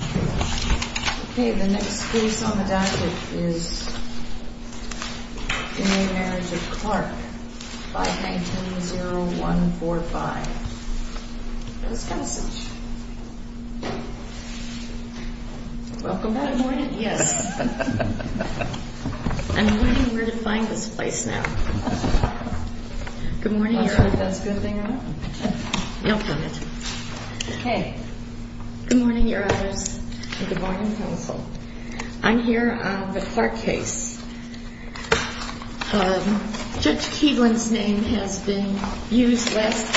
Okay, the next case on the docket is In re Marriage of Clark 519-0145 Miss Kenison Welcome back Good morning, yes I'm wondering where to find this place now Good morning, your honor I don't think that's a good thing to happen You'll find it Okay Good morning, your honors Good morning, counsel I'm here on the Clark case Judge Keevlin's name has been used less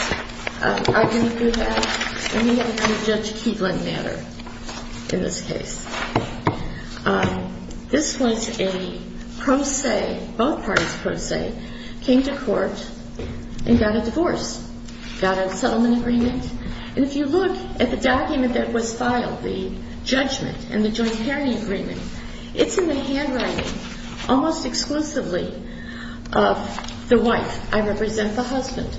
I think we have We have a Judge Keevlin matter In this case This was a pro se Both parties pro se Came to court And got a divorce Got a settlement agreement And if you look at the document that was filed The judgment and the joint pairing agreement It's in the handwriting Almost exclusively of the wife I represent the husband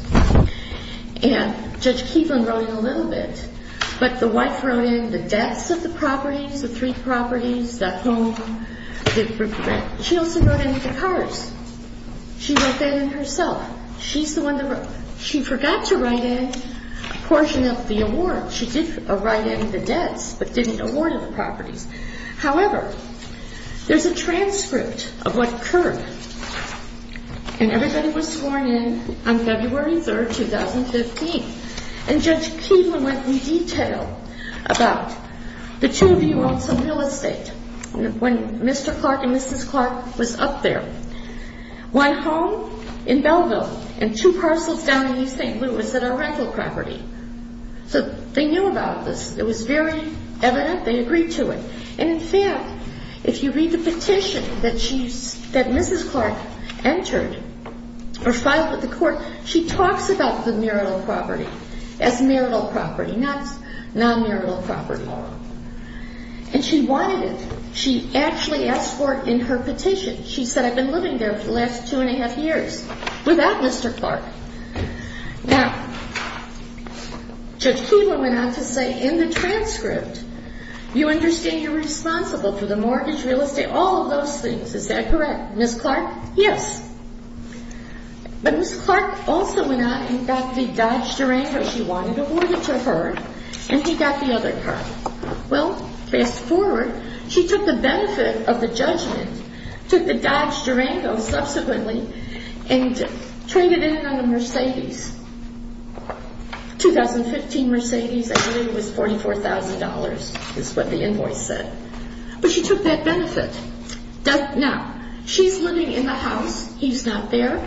And Judge Keevlin wrote in a little bit But the wife wrote in the debts of the properties The three properties That home She also wrote in the cars She wrote that in herself She's the one that wrote She forgot to write in a portion of the award She did write in the debts But didn't award the properties However There's a transcript of what occurred And everybody was sworn in On February 3rd, 2015 And Judge Keevlin went in detail About the two of you on some real estate When Mr. Clark and Mrs. Clark was up there One home in Belleville And two parcels down in East St. Louis That are rental property So they knew about this It was very evident They agreed to it And in fact If you read the petition that she That Mrs. Clark entered Or filed with the court She talks about the marital property As marital property Not non-marital property And she wanted it She actually asked for it in her petition She said I've been living there For the last two and a half years Without Mr. Clark Now Judge Keevlin went on to say In the transcript You understand you're responsible For the mortgage, real estate All of those things Is that correct? Mrs. Clark Yes But Mrs. Clark also went on And got the Dodge Durango She wanted awarded to her And she got the other car Well, fast forward She took the benefit of the judgment Took the Dodge Durango Subsequently And traded in on the Mercedes 2015 Mercedes And it was $44,000 Is what the invoice said But she took that benefit Now She's living in the house He's not there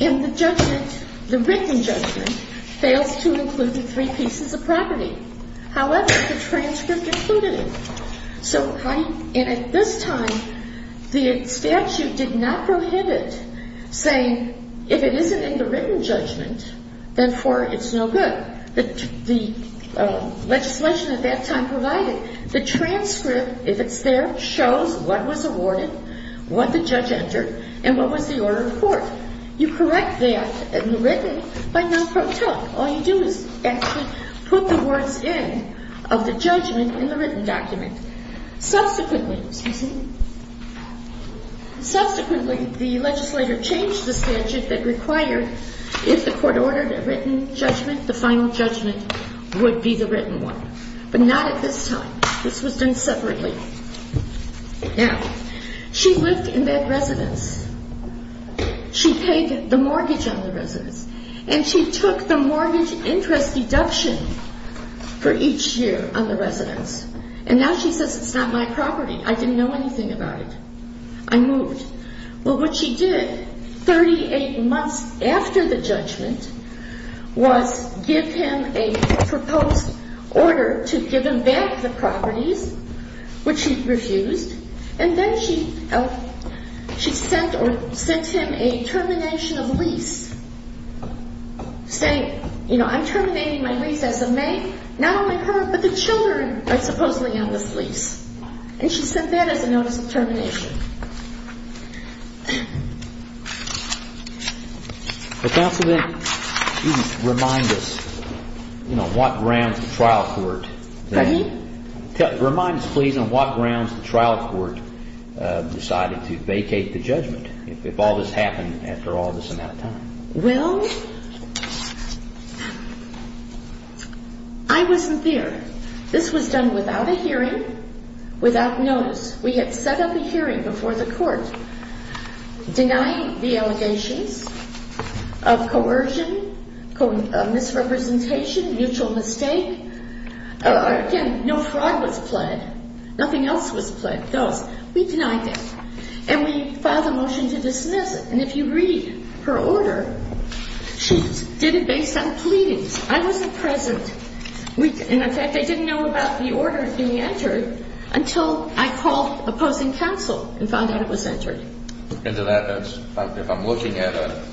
And the judgment The written judgment Fails to include the three pieces of property However The transcript included it And at this time The statute did not prohibit Saying If it isn't in the written judgment Therefore it's no good The legislation at that time provided The transcript If it's there Shows what was awarded What the judge entered And what was the order of court You correct that In the written All you do is Actually put the words in Of the judgment in the written document Subsequently Excuse me Subsequently the legislator Changed the statute that required If the court ordered a written judgment The final judgment Would be the written one But not at this time This was done separately Now She lived in that residence She paid the mortgage On the residence And she took the mortgage interest As a deduction For each year on the residence And now she says it's not my property I didn't know anything about it I moved But what she did 38 months after the judgment Was give him A proposed order To give him back the properties Which he refused And then she She sent him A termination of lease Saying I'm terminating my lease as of May Not only her but the children Are supposedly on this lease And she sent that as a notice of termination Counselor Remind us On what grounds the trial court Pardon me Remind us please on what grounds the trial court Decided to vacate the judgment If all this happened Well I wasn't there This was done without a hearing Without notice We had set up a hearing before the court Denying the allegations Of coercion Of misrepresentation Mutual mistake No fraud was pled Nothing else was pled We denied it And we filed a motion to dismiss it And if you read her order She did it based on pleadings I wasn't present In effect I didn't know about the order Being entered Until I called opposing counsel And found out it was entered If I'm looking at a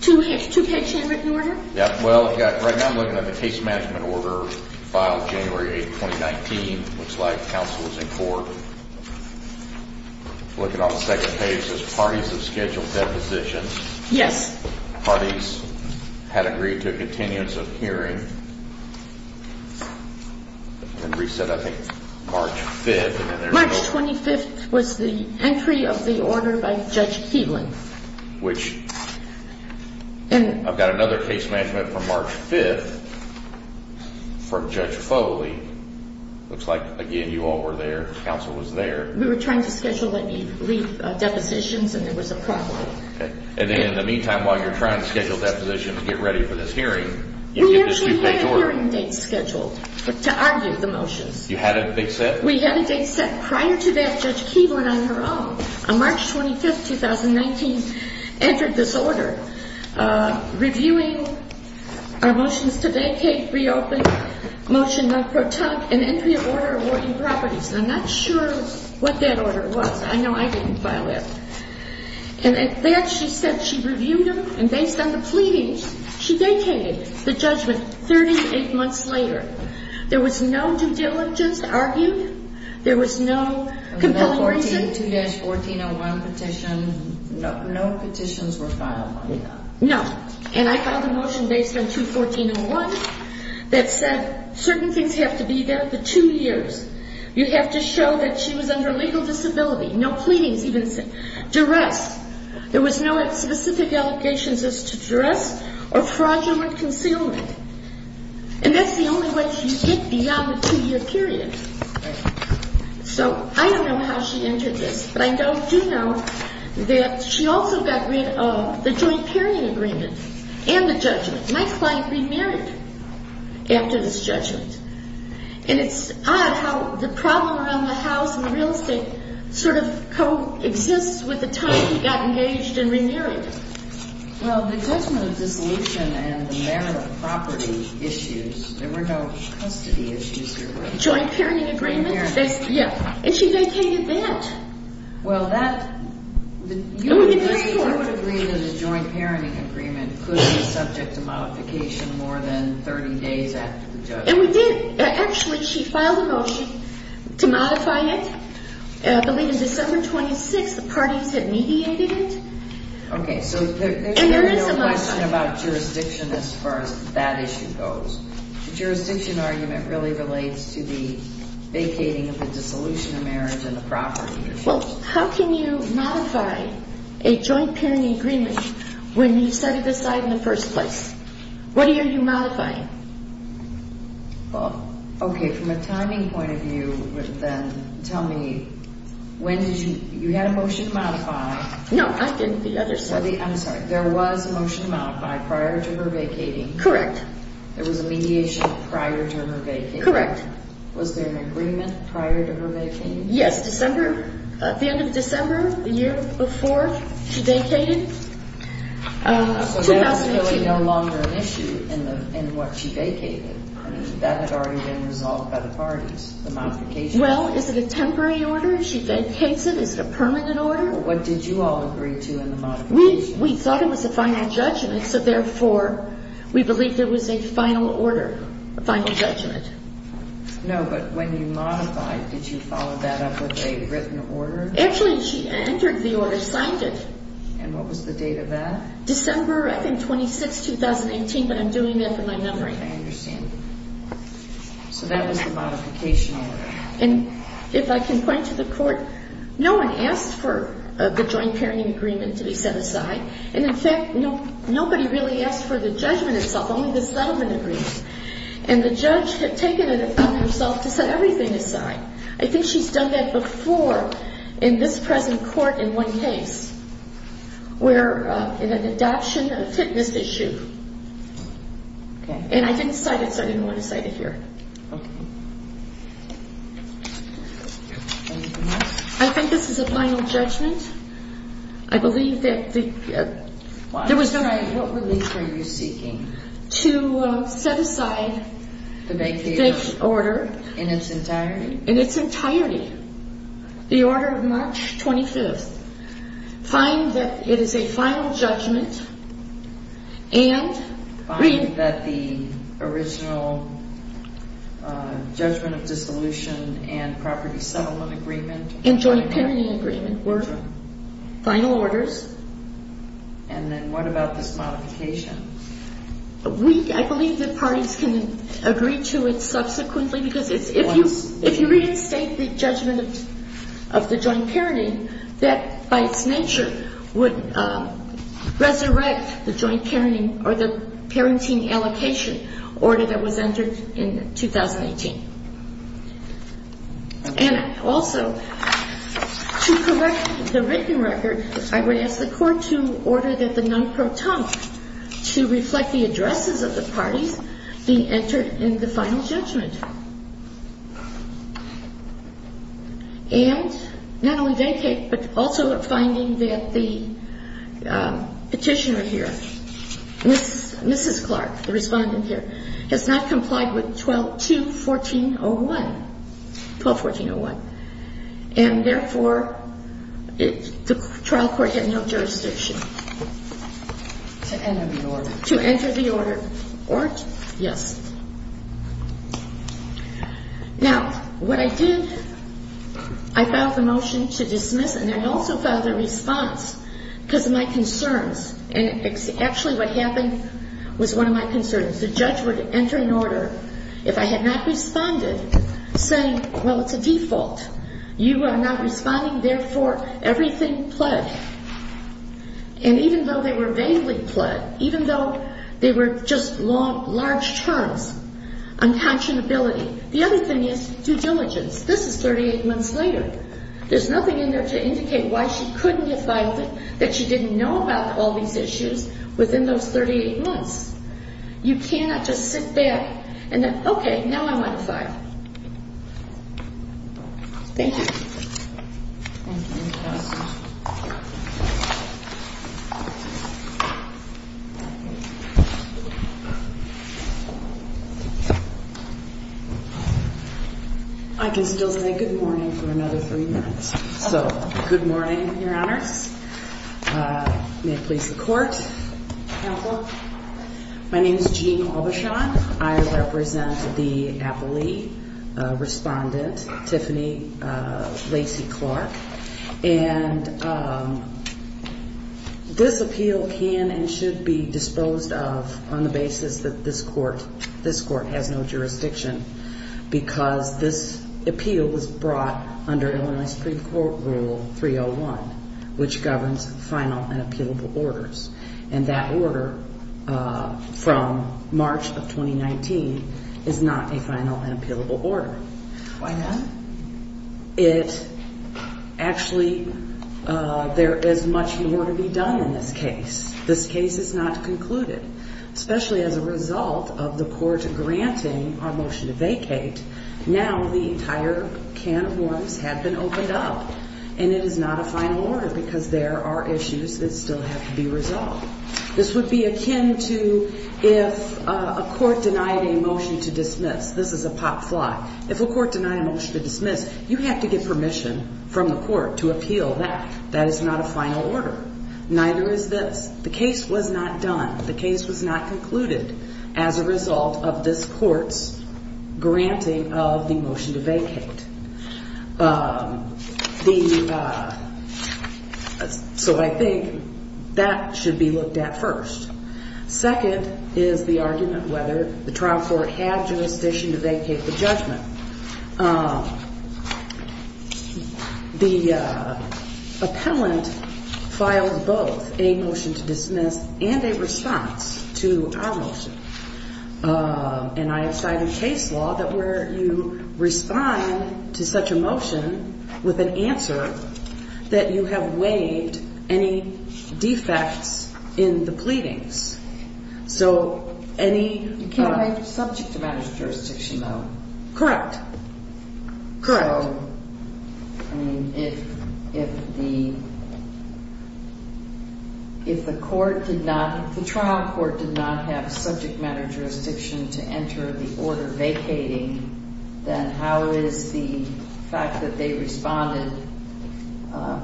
Two page handwritten order Yeah well right now I'm looking at A case management order Filed January 8, 2019 Looks like counsel is in court Looking on the second page It says parties have scheduled depositions Yes Parties had agreed to a Continuance of hearing And reset I think March 5th March 25th was the Entry of the order by Judge Keevlin Which I've got another case management From March 5th From Judge Foley Looks like again you all were there Counsel was there We were trying to schedule Depositions and there was a problem And then in the meantime While you're trying to schedule depositions To get ready for this hearing We actually had a hearing date scheduled To argue the motions You had a date set? We had a date set prior to that Judge Keevlin on her own On March 25th, 2019 Entered this order Reviewing our motions To vacate, reopen Motion not protect An entry of order awarding properties I'm not sure what that order was I know I didn't file it And at that she said she reviewed And based on the pleadings She vacated the judgment 38 months later There was no due diligence argued There was no compelling reason There was no 2-1401 petition No petitions were filed No And I filed a motion based on 2-1401 That said certain things have to be there For 2 years You have to show that she was under legal disability No pleadings even said Duress There was no specific allegations as to Duress or fraudulent concealment And that's the only way To get beyond the 2 year period So I don't know how she entered this But I do know that She also got rid of the joint Pairing agreement and the judgment My client remarried After this judgment And it's odd how the problem Around the house and real estate Sort of co-exists With the time he got engaged and remarried Well the judgment Of dissolution and the marital property Issues There were no custody issues Joint pairing agreement And she vacated that Well that You would agree that a joint Pairing agreement could be subject To modification more than 30 days after the judgment Actually she filed a motion To modify it I believe in December 26th The parties had mediated it Okay so there is a Question about jurisdiction as far as That issue goes Jurisdiction argument really relates to The vacating of the Dissolution of marriage and the property Well how can you modify A joint pairing agreement When you set it aside in the first place What are you modifying Well Okay from a timing point of view Then tell me When did you You had a motion to modify No I didn't the other side I'm sorry there was a motion to modify prior to her vacating Correct There was a mediation prior to her vacating Correct Was there an agreement prior to her vacating Yes December The end of December the year before She vacated So there was really no longer an issue In what she vacated That had already been resolved by the parties The modification Well is it a temporary order She vacates it is it a permanent order What did you all agree to in the modification We thought it was a final judgment So therefore we believe It was a final order Final judgment No but when you modified Did you follow that up with a written order Actually she entered the order Signed it And what was the date of that December I think 26, 2018 But I'm doing that for my memory I understand So that was the modification order And if I can point to the court No one asked for the joint pairing agreement To be set aside And in fact nobody really asked for the judgment itself Only the settlement agrees And the judge had taken it upon herself To set everything aside I think she's done that before In this present court in one case Where In an adoption of a fitness issue And I didn't cite it So I didn't want to cite it here Okay Anything else I think this is a final judgment I believe that There was What relief are you seeking To set aside The vacation order In its entirety In its entirety The order of March 25th Find that it is a final judgment And Find that the Original Judgment of dissolution And property settlement agreement And joint pairing agreement Were final orders And then what about This modification I believe the parties can Agree to it subsequently Because if you reinstate The judgment of the joint Pairing That by its nature would Resurrect the joint pairing Or the parenting allocation Order that was entered in 2018 And also To correct The written record I would ask the court To order that the non-proton To reflect the addresses Of the parties being entered In the final judgment And Not only dedicate but also finding that The Petitioner here Mrs. Clark, the respondent here Has not complied with 12-2-14-01 12-2-14-01 And therefore The trial court had no Jurisdiction To enter the order To enter the order Yes Now What I did I filed the motion to dismiss And I also filed a response Because of my concerns And actually what happened Was one of my concerns The judge would enter an order If I had not responded Saying well it's a default You are not responding Therefore everything pled And even though they were Vaguely pled Even though they were just Large terms Unconscionability The other thing is due diligence This is 38 months later There's nothing in there to indicate Why she couldn't get by That she didn't know about all these issues Within those 38 months You cannot just sit back And then okay Now I'm on the file Thank you I can still say good morning For another three minutes So good morning Your honors May it please the court My name is Jean I represent The appellee Respondent Tiffany Lacey Clark And This appeal can And should be disposed of On the basis that this court This court has no jurisdiction Because this appeal Was brought under Illinois Supreme Court rule 301 Which governs final and Appealable orders And that order From March of 2019 Is not a final and appealable order Why not? It Actually There is much more to be done in this case This case is not concluded Especially as a result of the court Granting our motion to vacate Now the entire Can of worms have been opened up And it is not a final order Because there are issues That still have to be resolved This would be akin to If a court denied a motion to dismiss This is a pot fly If a court denied a motion to dismiss You have to get permission from the court To appeal that That is not a final order Neither is this The case was not done The case was not concluded As a result of this court's Granting of the motion To vacate The So I think That should be looked at First Second is the argument Whether the trial court had jurisdiction To vacate the judgment The Appellant Filed both A motion to dismiss And a response to our motion And I have cited Case law that where you Respond to such a motion With an answer That you have waived Any defects In the pleadings So any You can't waive subject to matters of jurisdiction though Correct Correct I mean if If the If the court did not The trial court did not have subject matter Jurisdiction to enter the order Vacating Then how is the fact that they Responded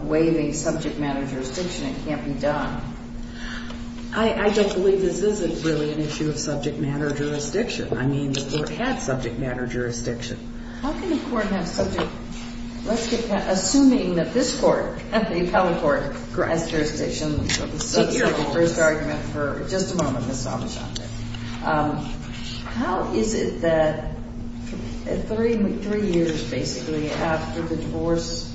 Waiving subject matter jurisdiction It can't be done I don't believe this is Really an issue of subject matter jurisdiction I mean the court had subject matter Jurisdiction How can the court have subject Assuming that this court The appellate court Has jurisdiction For the first argument For just a moment How is it that Three years Basically after the divorce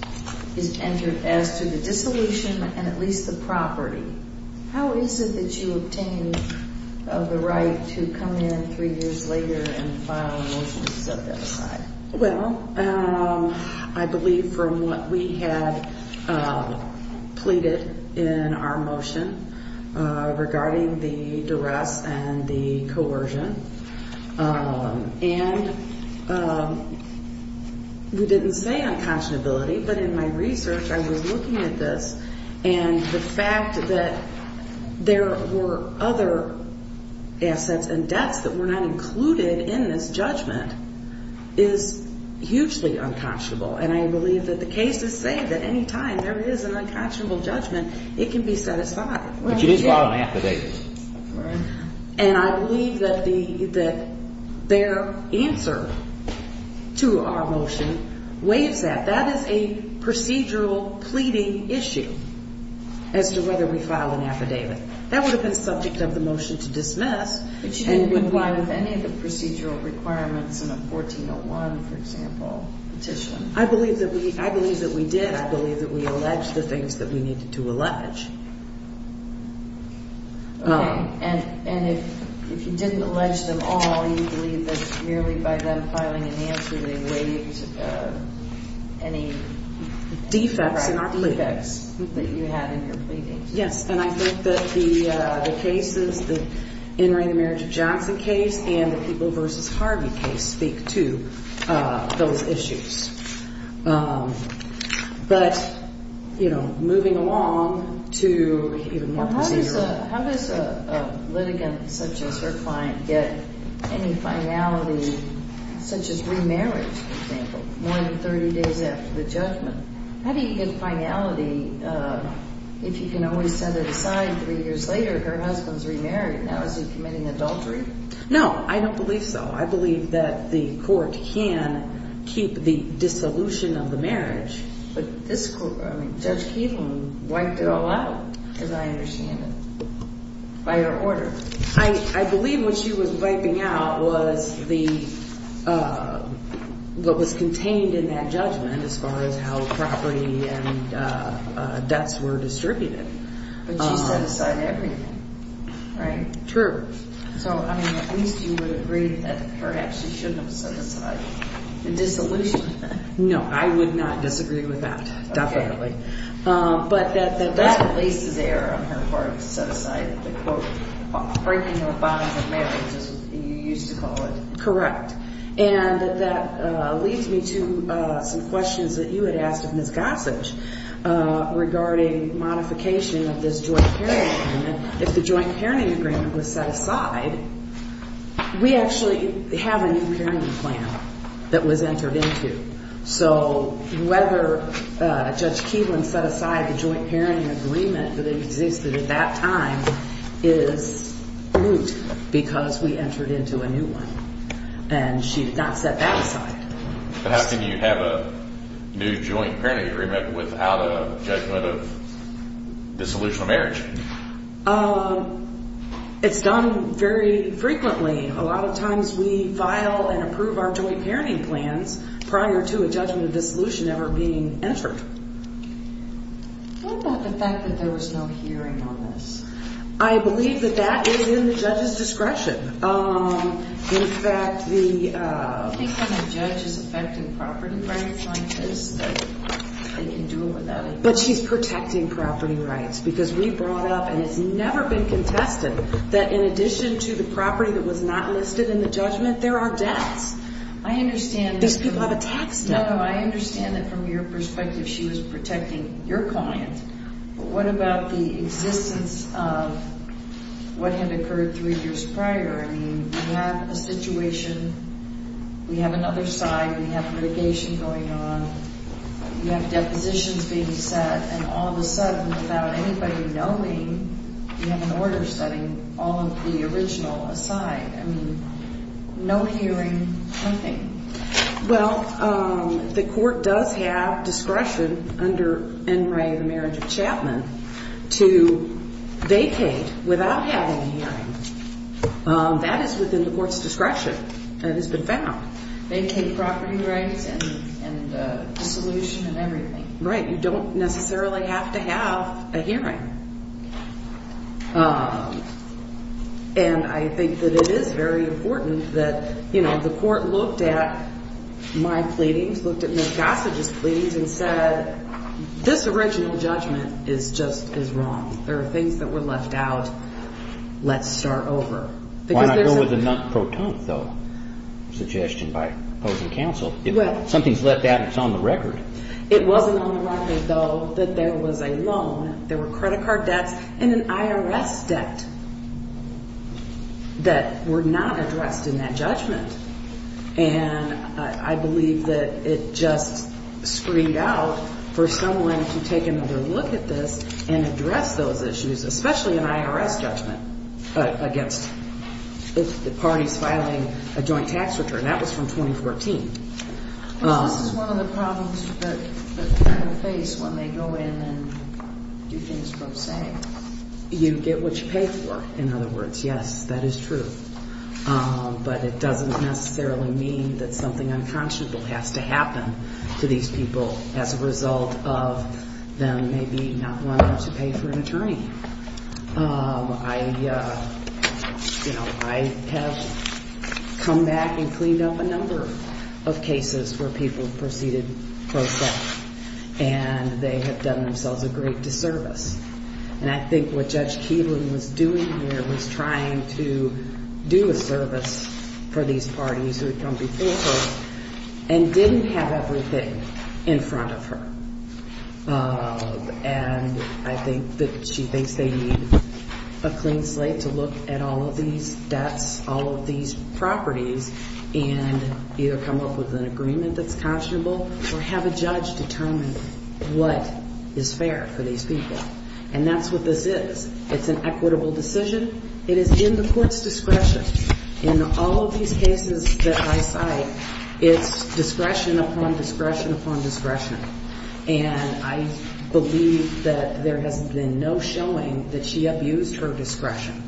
Is entered as to the Dissolution and at least the property How is it that you Obtained the right To come in three years later And file a motion to set that aside Well I believe from what we had Pleaded In our motion Regarding the Duress and the coercion And We didn't say unconscionability But in my research I was looking at this And the fact that There were Other assets And debts that were not included In this judgment Is hugely unconscionable And I believe that the case is saved At any time there is an unconscionable judgment It can be set aside But you did file an affidavit And I believe that Their answer To our motion Waives that That is a procedural pleading issue As to whether we Filed an affidavit That would have been subject of the motion to dismiss But you didn't comply with any of the Procedural requirements in a 1401 for example Petition I believe that we did I believe that we alleged the things that we needed to allege Okay And if You didn't allege them all You believe that merely by them filing an answer They waived Any Defects That you had in your pleadings Yes and I think that the Cases Entering the marriage of Johnson case And the people versus Harvey case Speak to those issues But You know Moving along to Even more procedural How does a litigant such as her client Get any finality Such as remarriage For example More than 30 days after the judgment How do you get finality If you can always set it aside Three years later Her husband is remarried Now is he committing adultery No I don't believe so I believe that the court can Keep the dissolution of the marriage But this court Judge Keevan wiped it all out As I understand it By your order I believe what she was wiping out Was the What was contained in that judgment As far as how property And debts were distributed But she set aside everything Right True So I mean at least you would agree That perhaps she shouldn't have set aside The dissolution No I would not disagree with that Definitely But that that Set aside the quote Breaking the bonds of marriage As you used to call it Correct And that leads me to some questions That you had asked of Ms. Gossage Regarding modification Of this joint parenting agreement If the joint parenting agreement was set aside We actually Have a new parenting plan That was entered into So whether Judge Keevan set aside The joint parenting agreement That existed at that time Is moot Because we entered into a new one And she did not set that aside But how can you have a New joint parenting agreement Without a judgment of Dissolution of marriage Um It's done very frequently A lot of times we file And approve our joint parenting plans Prior to a judgment of dissolution Ever being entered What about the fact That there was no hearing on this I believe that that Is in the judges discretion Um in fact the I think when a judge is affecting Property rights like this They can do it without But she's protecting property rights Because we brought up and it's never been Contested that in addition to The property that was not listed in the judgment There are debts I understand These people have a tax debt I understand that from your perspective She was protecting your client But what about the existence of What had occurred Three years prior I mean we have a situation We have another side We have litigation going on We have depositions being set And all of a sudden without anybody Knowing we have an order Setting all of the original aside I mean No hearing Well um The court does have discretion Under NRA the marriage of Chapman To Vacate without having a hearing Um that is within The courts discretion Vacate property rights And dissolution And everything Right you don't necessarily have to have a hearing Um And I think That it is very important That you know the court looked at My pleadings Looked at Ms. Gossage's pleadings And said this original judgment Is just is wrong There are things that were left out Let's start over Why not go with the non-proton Suggestion by opposing counsel Something's left out and it's on the record It wasn't on the record though That there was a loan There were credit card debts And an IRS debt That Were not addressed in that judgment And I Believe that it just Screamed out for someone To take another look at this And address those issues Especially an IRS judgment Against the parties Filing a joint tax return That was from 2014 This is one of the problems That people face when they go in And do things pro se You get what you pay for In other words yes that is true Um but it doesn't Necessarily mean that something unconscionable Has to happen to these People as a result of Them maybe not wanting to Pay for an attorney Um I You know I have Come back and cleaned up a number Of cases where people Proceeded pro se And they have Done themselves a great disservice And I think what Judge Keeley Was doing here was trying to Do a service For these parties who had come before her And didn't have everything In front of her Um and I think that she thinks they need A clean slate to look At all of these debts All of these properties And either come up with an agreement That's conscionable or have a judge Determine what is Fair for these people And that's what this is It's an equitable decision It is in the court's discretion In all of these cases that I cite It's discretion upon discretion Upon discretion And I believe that There has been no showing That she abused her discretion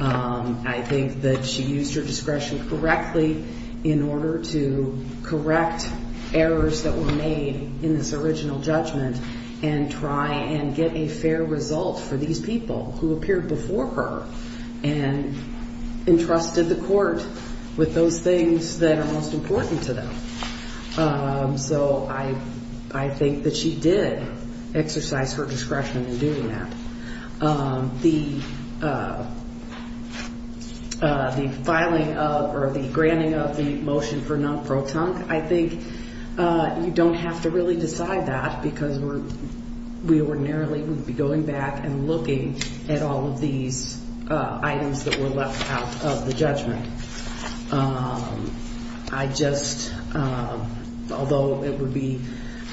Um I think that she used Her discretion correctly In order to Correct errors that were made In this original judgment And try and get a fair Result for these people Who appeared before her And entrusted the court With those things that are Most important to them Um so I Think that she did exercise Her discretion in doing that Um the The filing of Or the granting of the motion For non-pro-tunk I think you don't have to Really decide that because We ordinarily would be going back And looking at all of these Items that were left out Of the judgment Um I just Although it would be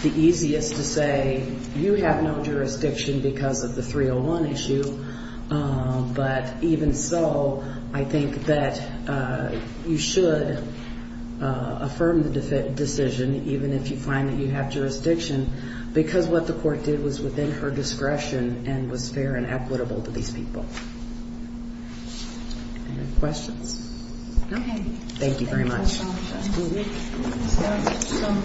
The easiest to say You have no jurisdiction Because of the 301 issue Um but even so I think that You should Affirm the decision Even if you find that you have jurisdiction Because what the court did Was within her discretion and was Fair and equitable to these people Any questions? No? Thank you very much So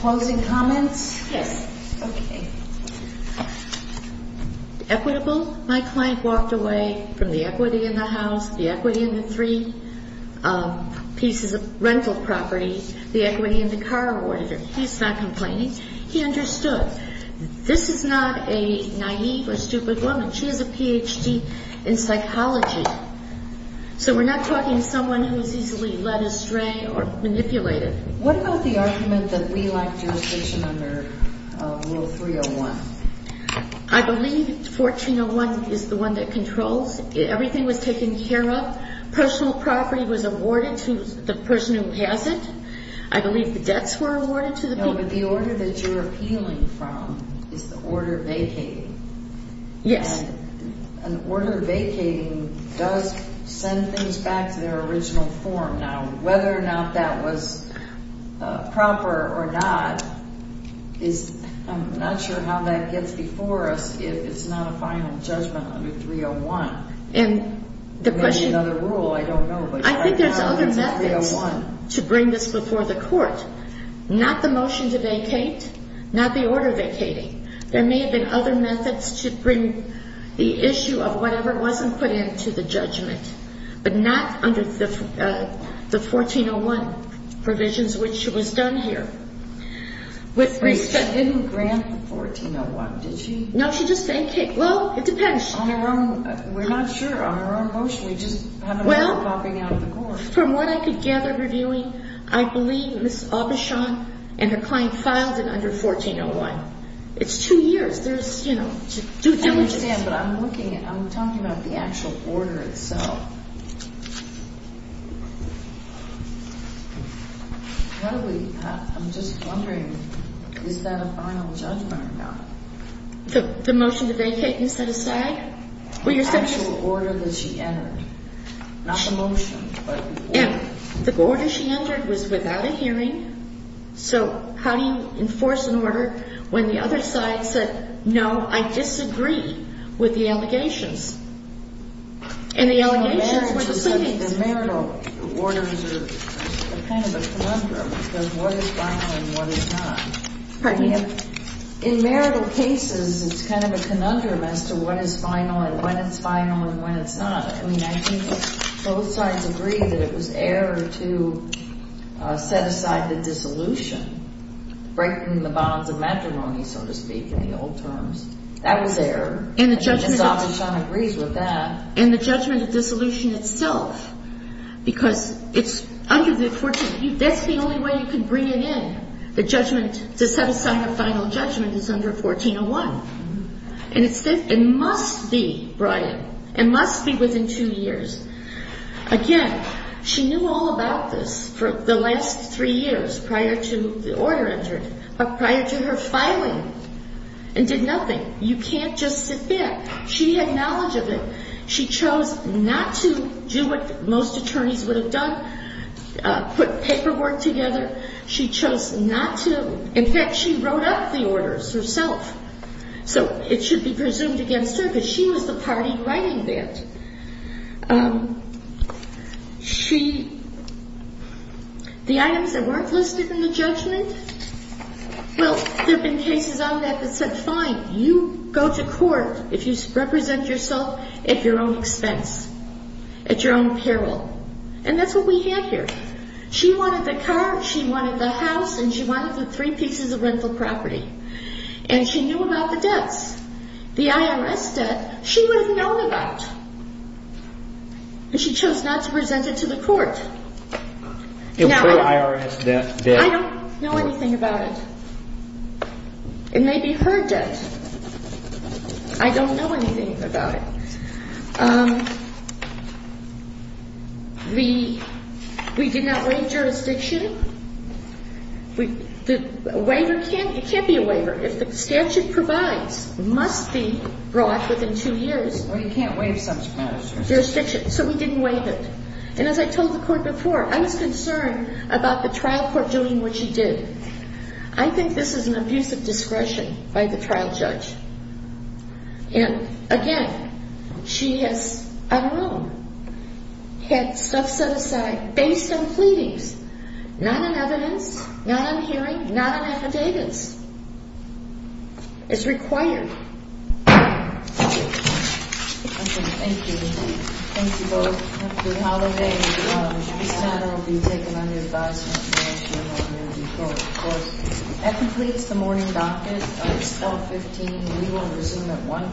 Closing comments? Yes Okay Equitable? My client walked away from the equity In the house, the equity in the three Um pieces of Rental property, the equity in the Car or whatever, he's not complaining He understood This is not a naive or stupid Woman, she has a PhD In psychology So we're not talking someone who's easily Led astray or manipulated What about the argument that we Lacked jurisdiction under Rule 301? I believe 1401 Is the one that controls Everything was taken care of Personal property was awarded to the person Who passed it I believe the debts were awarded to the people No but the order that you're appealing from Is the order vacating Yes An order vacating does Send things back to their original form Now whether or not that was Proper or not Is I'm not sure how that gets before us If it's not a final judgment Under 301 Maybe another rule, I don't know I think there's other methods To bring this before the court Not the motion to vacate Not the order vacating There may have been other methods to bring The issue of whatever Wasn't put into the judgment But not under The 1401 Provisions which was done here Wait She didn't grant the 1401 Did she? No she just vacated, well it depends We're not sure on her own motion We just haven't heard a copy out of the court From what I could gather reviewing I believe Ms. Aubuchon And her client filed it under 1401 It's two years I understand but I'm looking I'm talking about the actual order itself Probably I'm just wondering Is that a final judgment or not? The motion to vacate And set aside The actual order that she entered Not the motion The order she entered Was without a hearing So how do you enforce an order When the other side said No I disagree With the allegations And the allegations In marital Orders are Kind of a conundrum Because what is final and what is not In marital cases It's kind of a conundrum As to what is final and when it's final And when it's not I think both sides agree That it was error to Set aside the dissolution Breaking the bonds of matrimony So to speak in the old terms That was error And the judgment And the judgment of dissolution itself Because it's Under the 14 That's the only way you can bring it in The judgment to set aside her final judgment Is under 1401 And it must be Brian It must be within two years Again she knew all about this For the last three years Prior to the order entered But prior to her filing And did nothing You can't just sit there She had knowledge of it She chose not to do what most Attorneys would have done Put paperwork together She chose not to In fact she wrote up the orders herself So it should be presumed Against her because she was the party Writing that She The items That weren't listed in the judgment Well there have been cases on that That said fine you go to court If you represent yourself At your own expense At your own peril And that's what we have here She wanted the car She wanted the house And she wanted the three pieces of rental property And she knew about the debts The IRS debt She would have known about But she chose not to present it to the court Now I don't know anything about it It may be her debt I don't know anything about it Um We We did not waive Jurisdiction The waiver It can't be a waiver If the statute provides Must be brought within two years Or you can't waive subsequent Jurisdiction So we didn't waive it And as I told the court before I was concerned about the trial court Doing what she did I think this is an abuse of discretion By the trial judge And again She has I don't know Had stuff set aside Based on pleadings Not on evidence Not on hearing Not on affidavits As required Thank you Thank you Thank you both Good holiday This matter will be taken under Advisement of the National Energy Court That completes the morning docket It's 1215 We will resume at one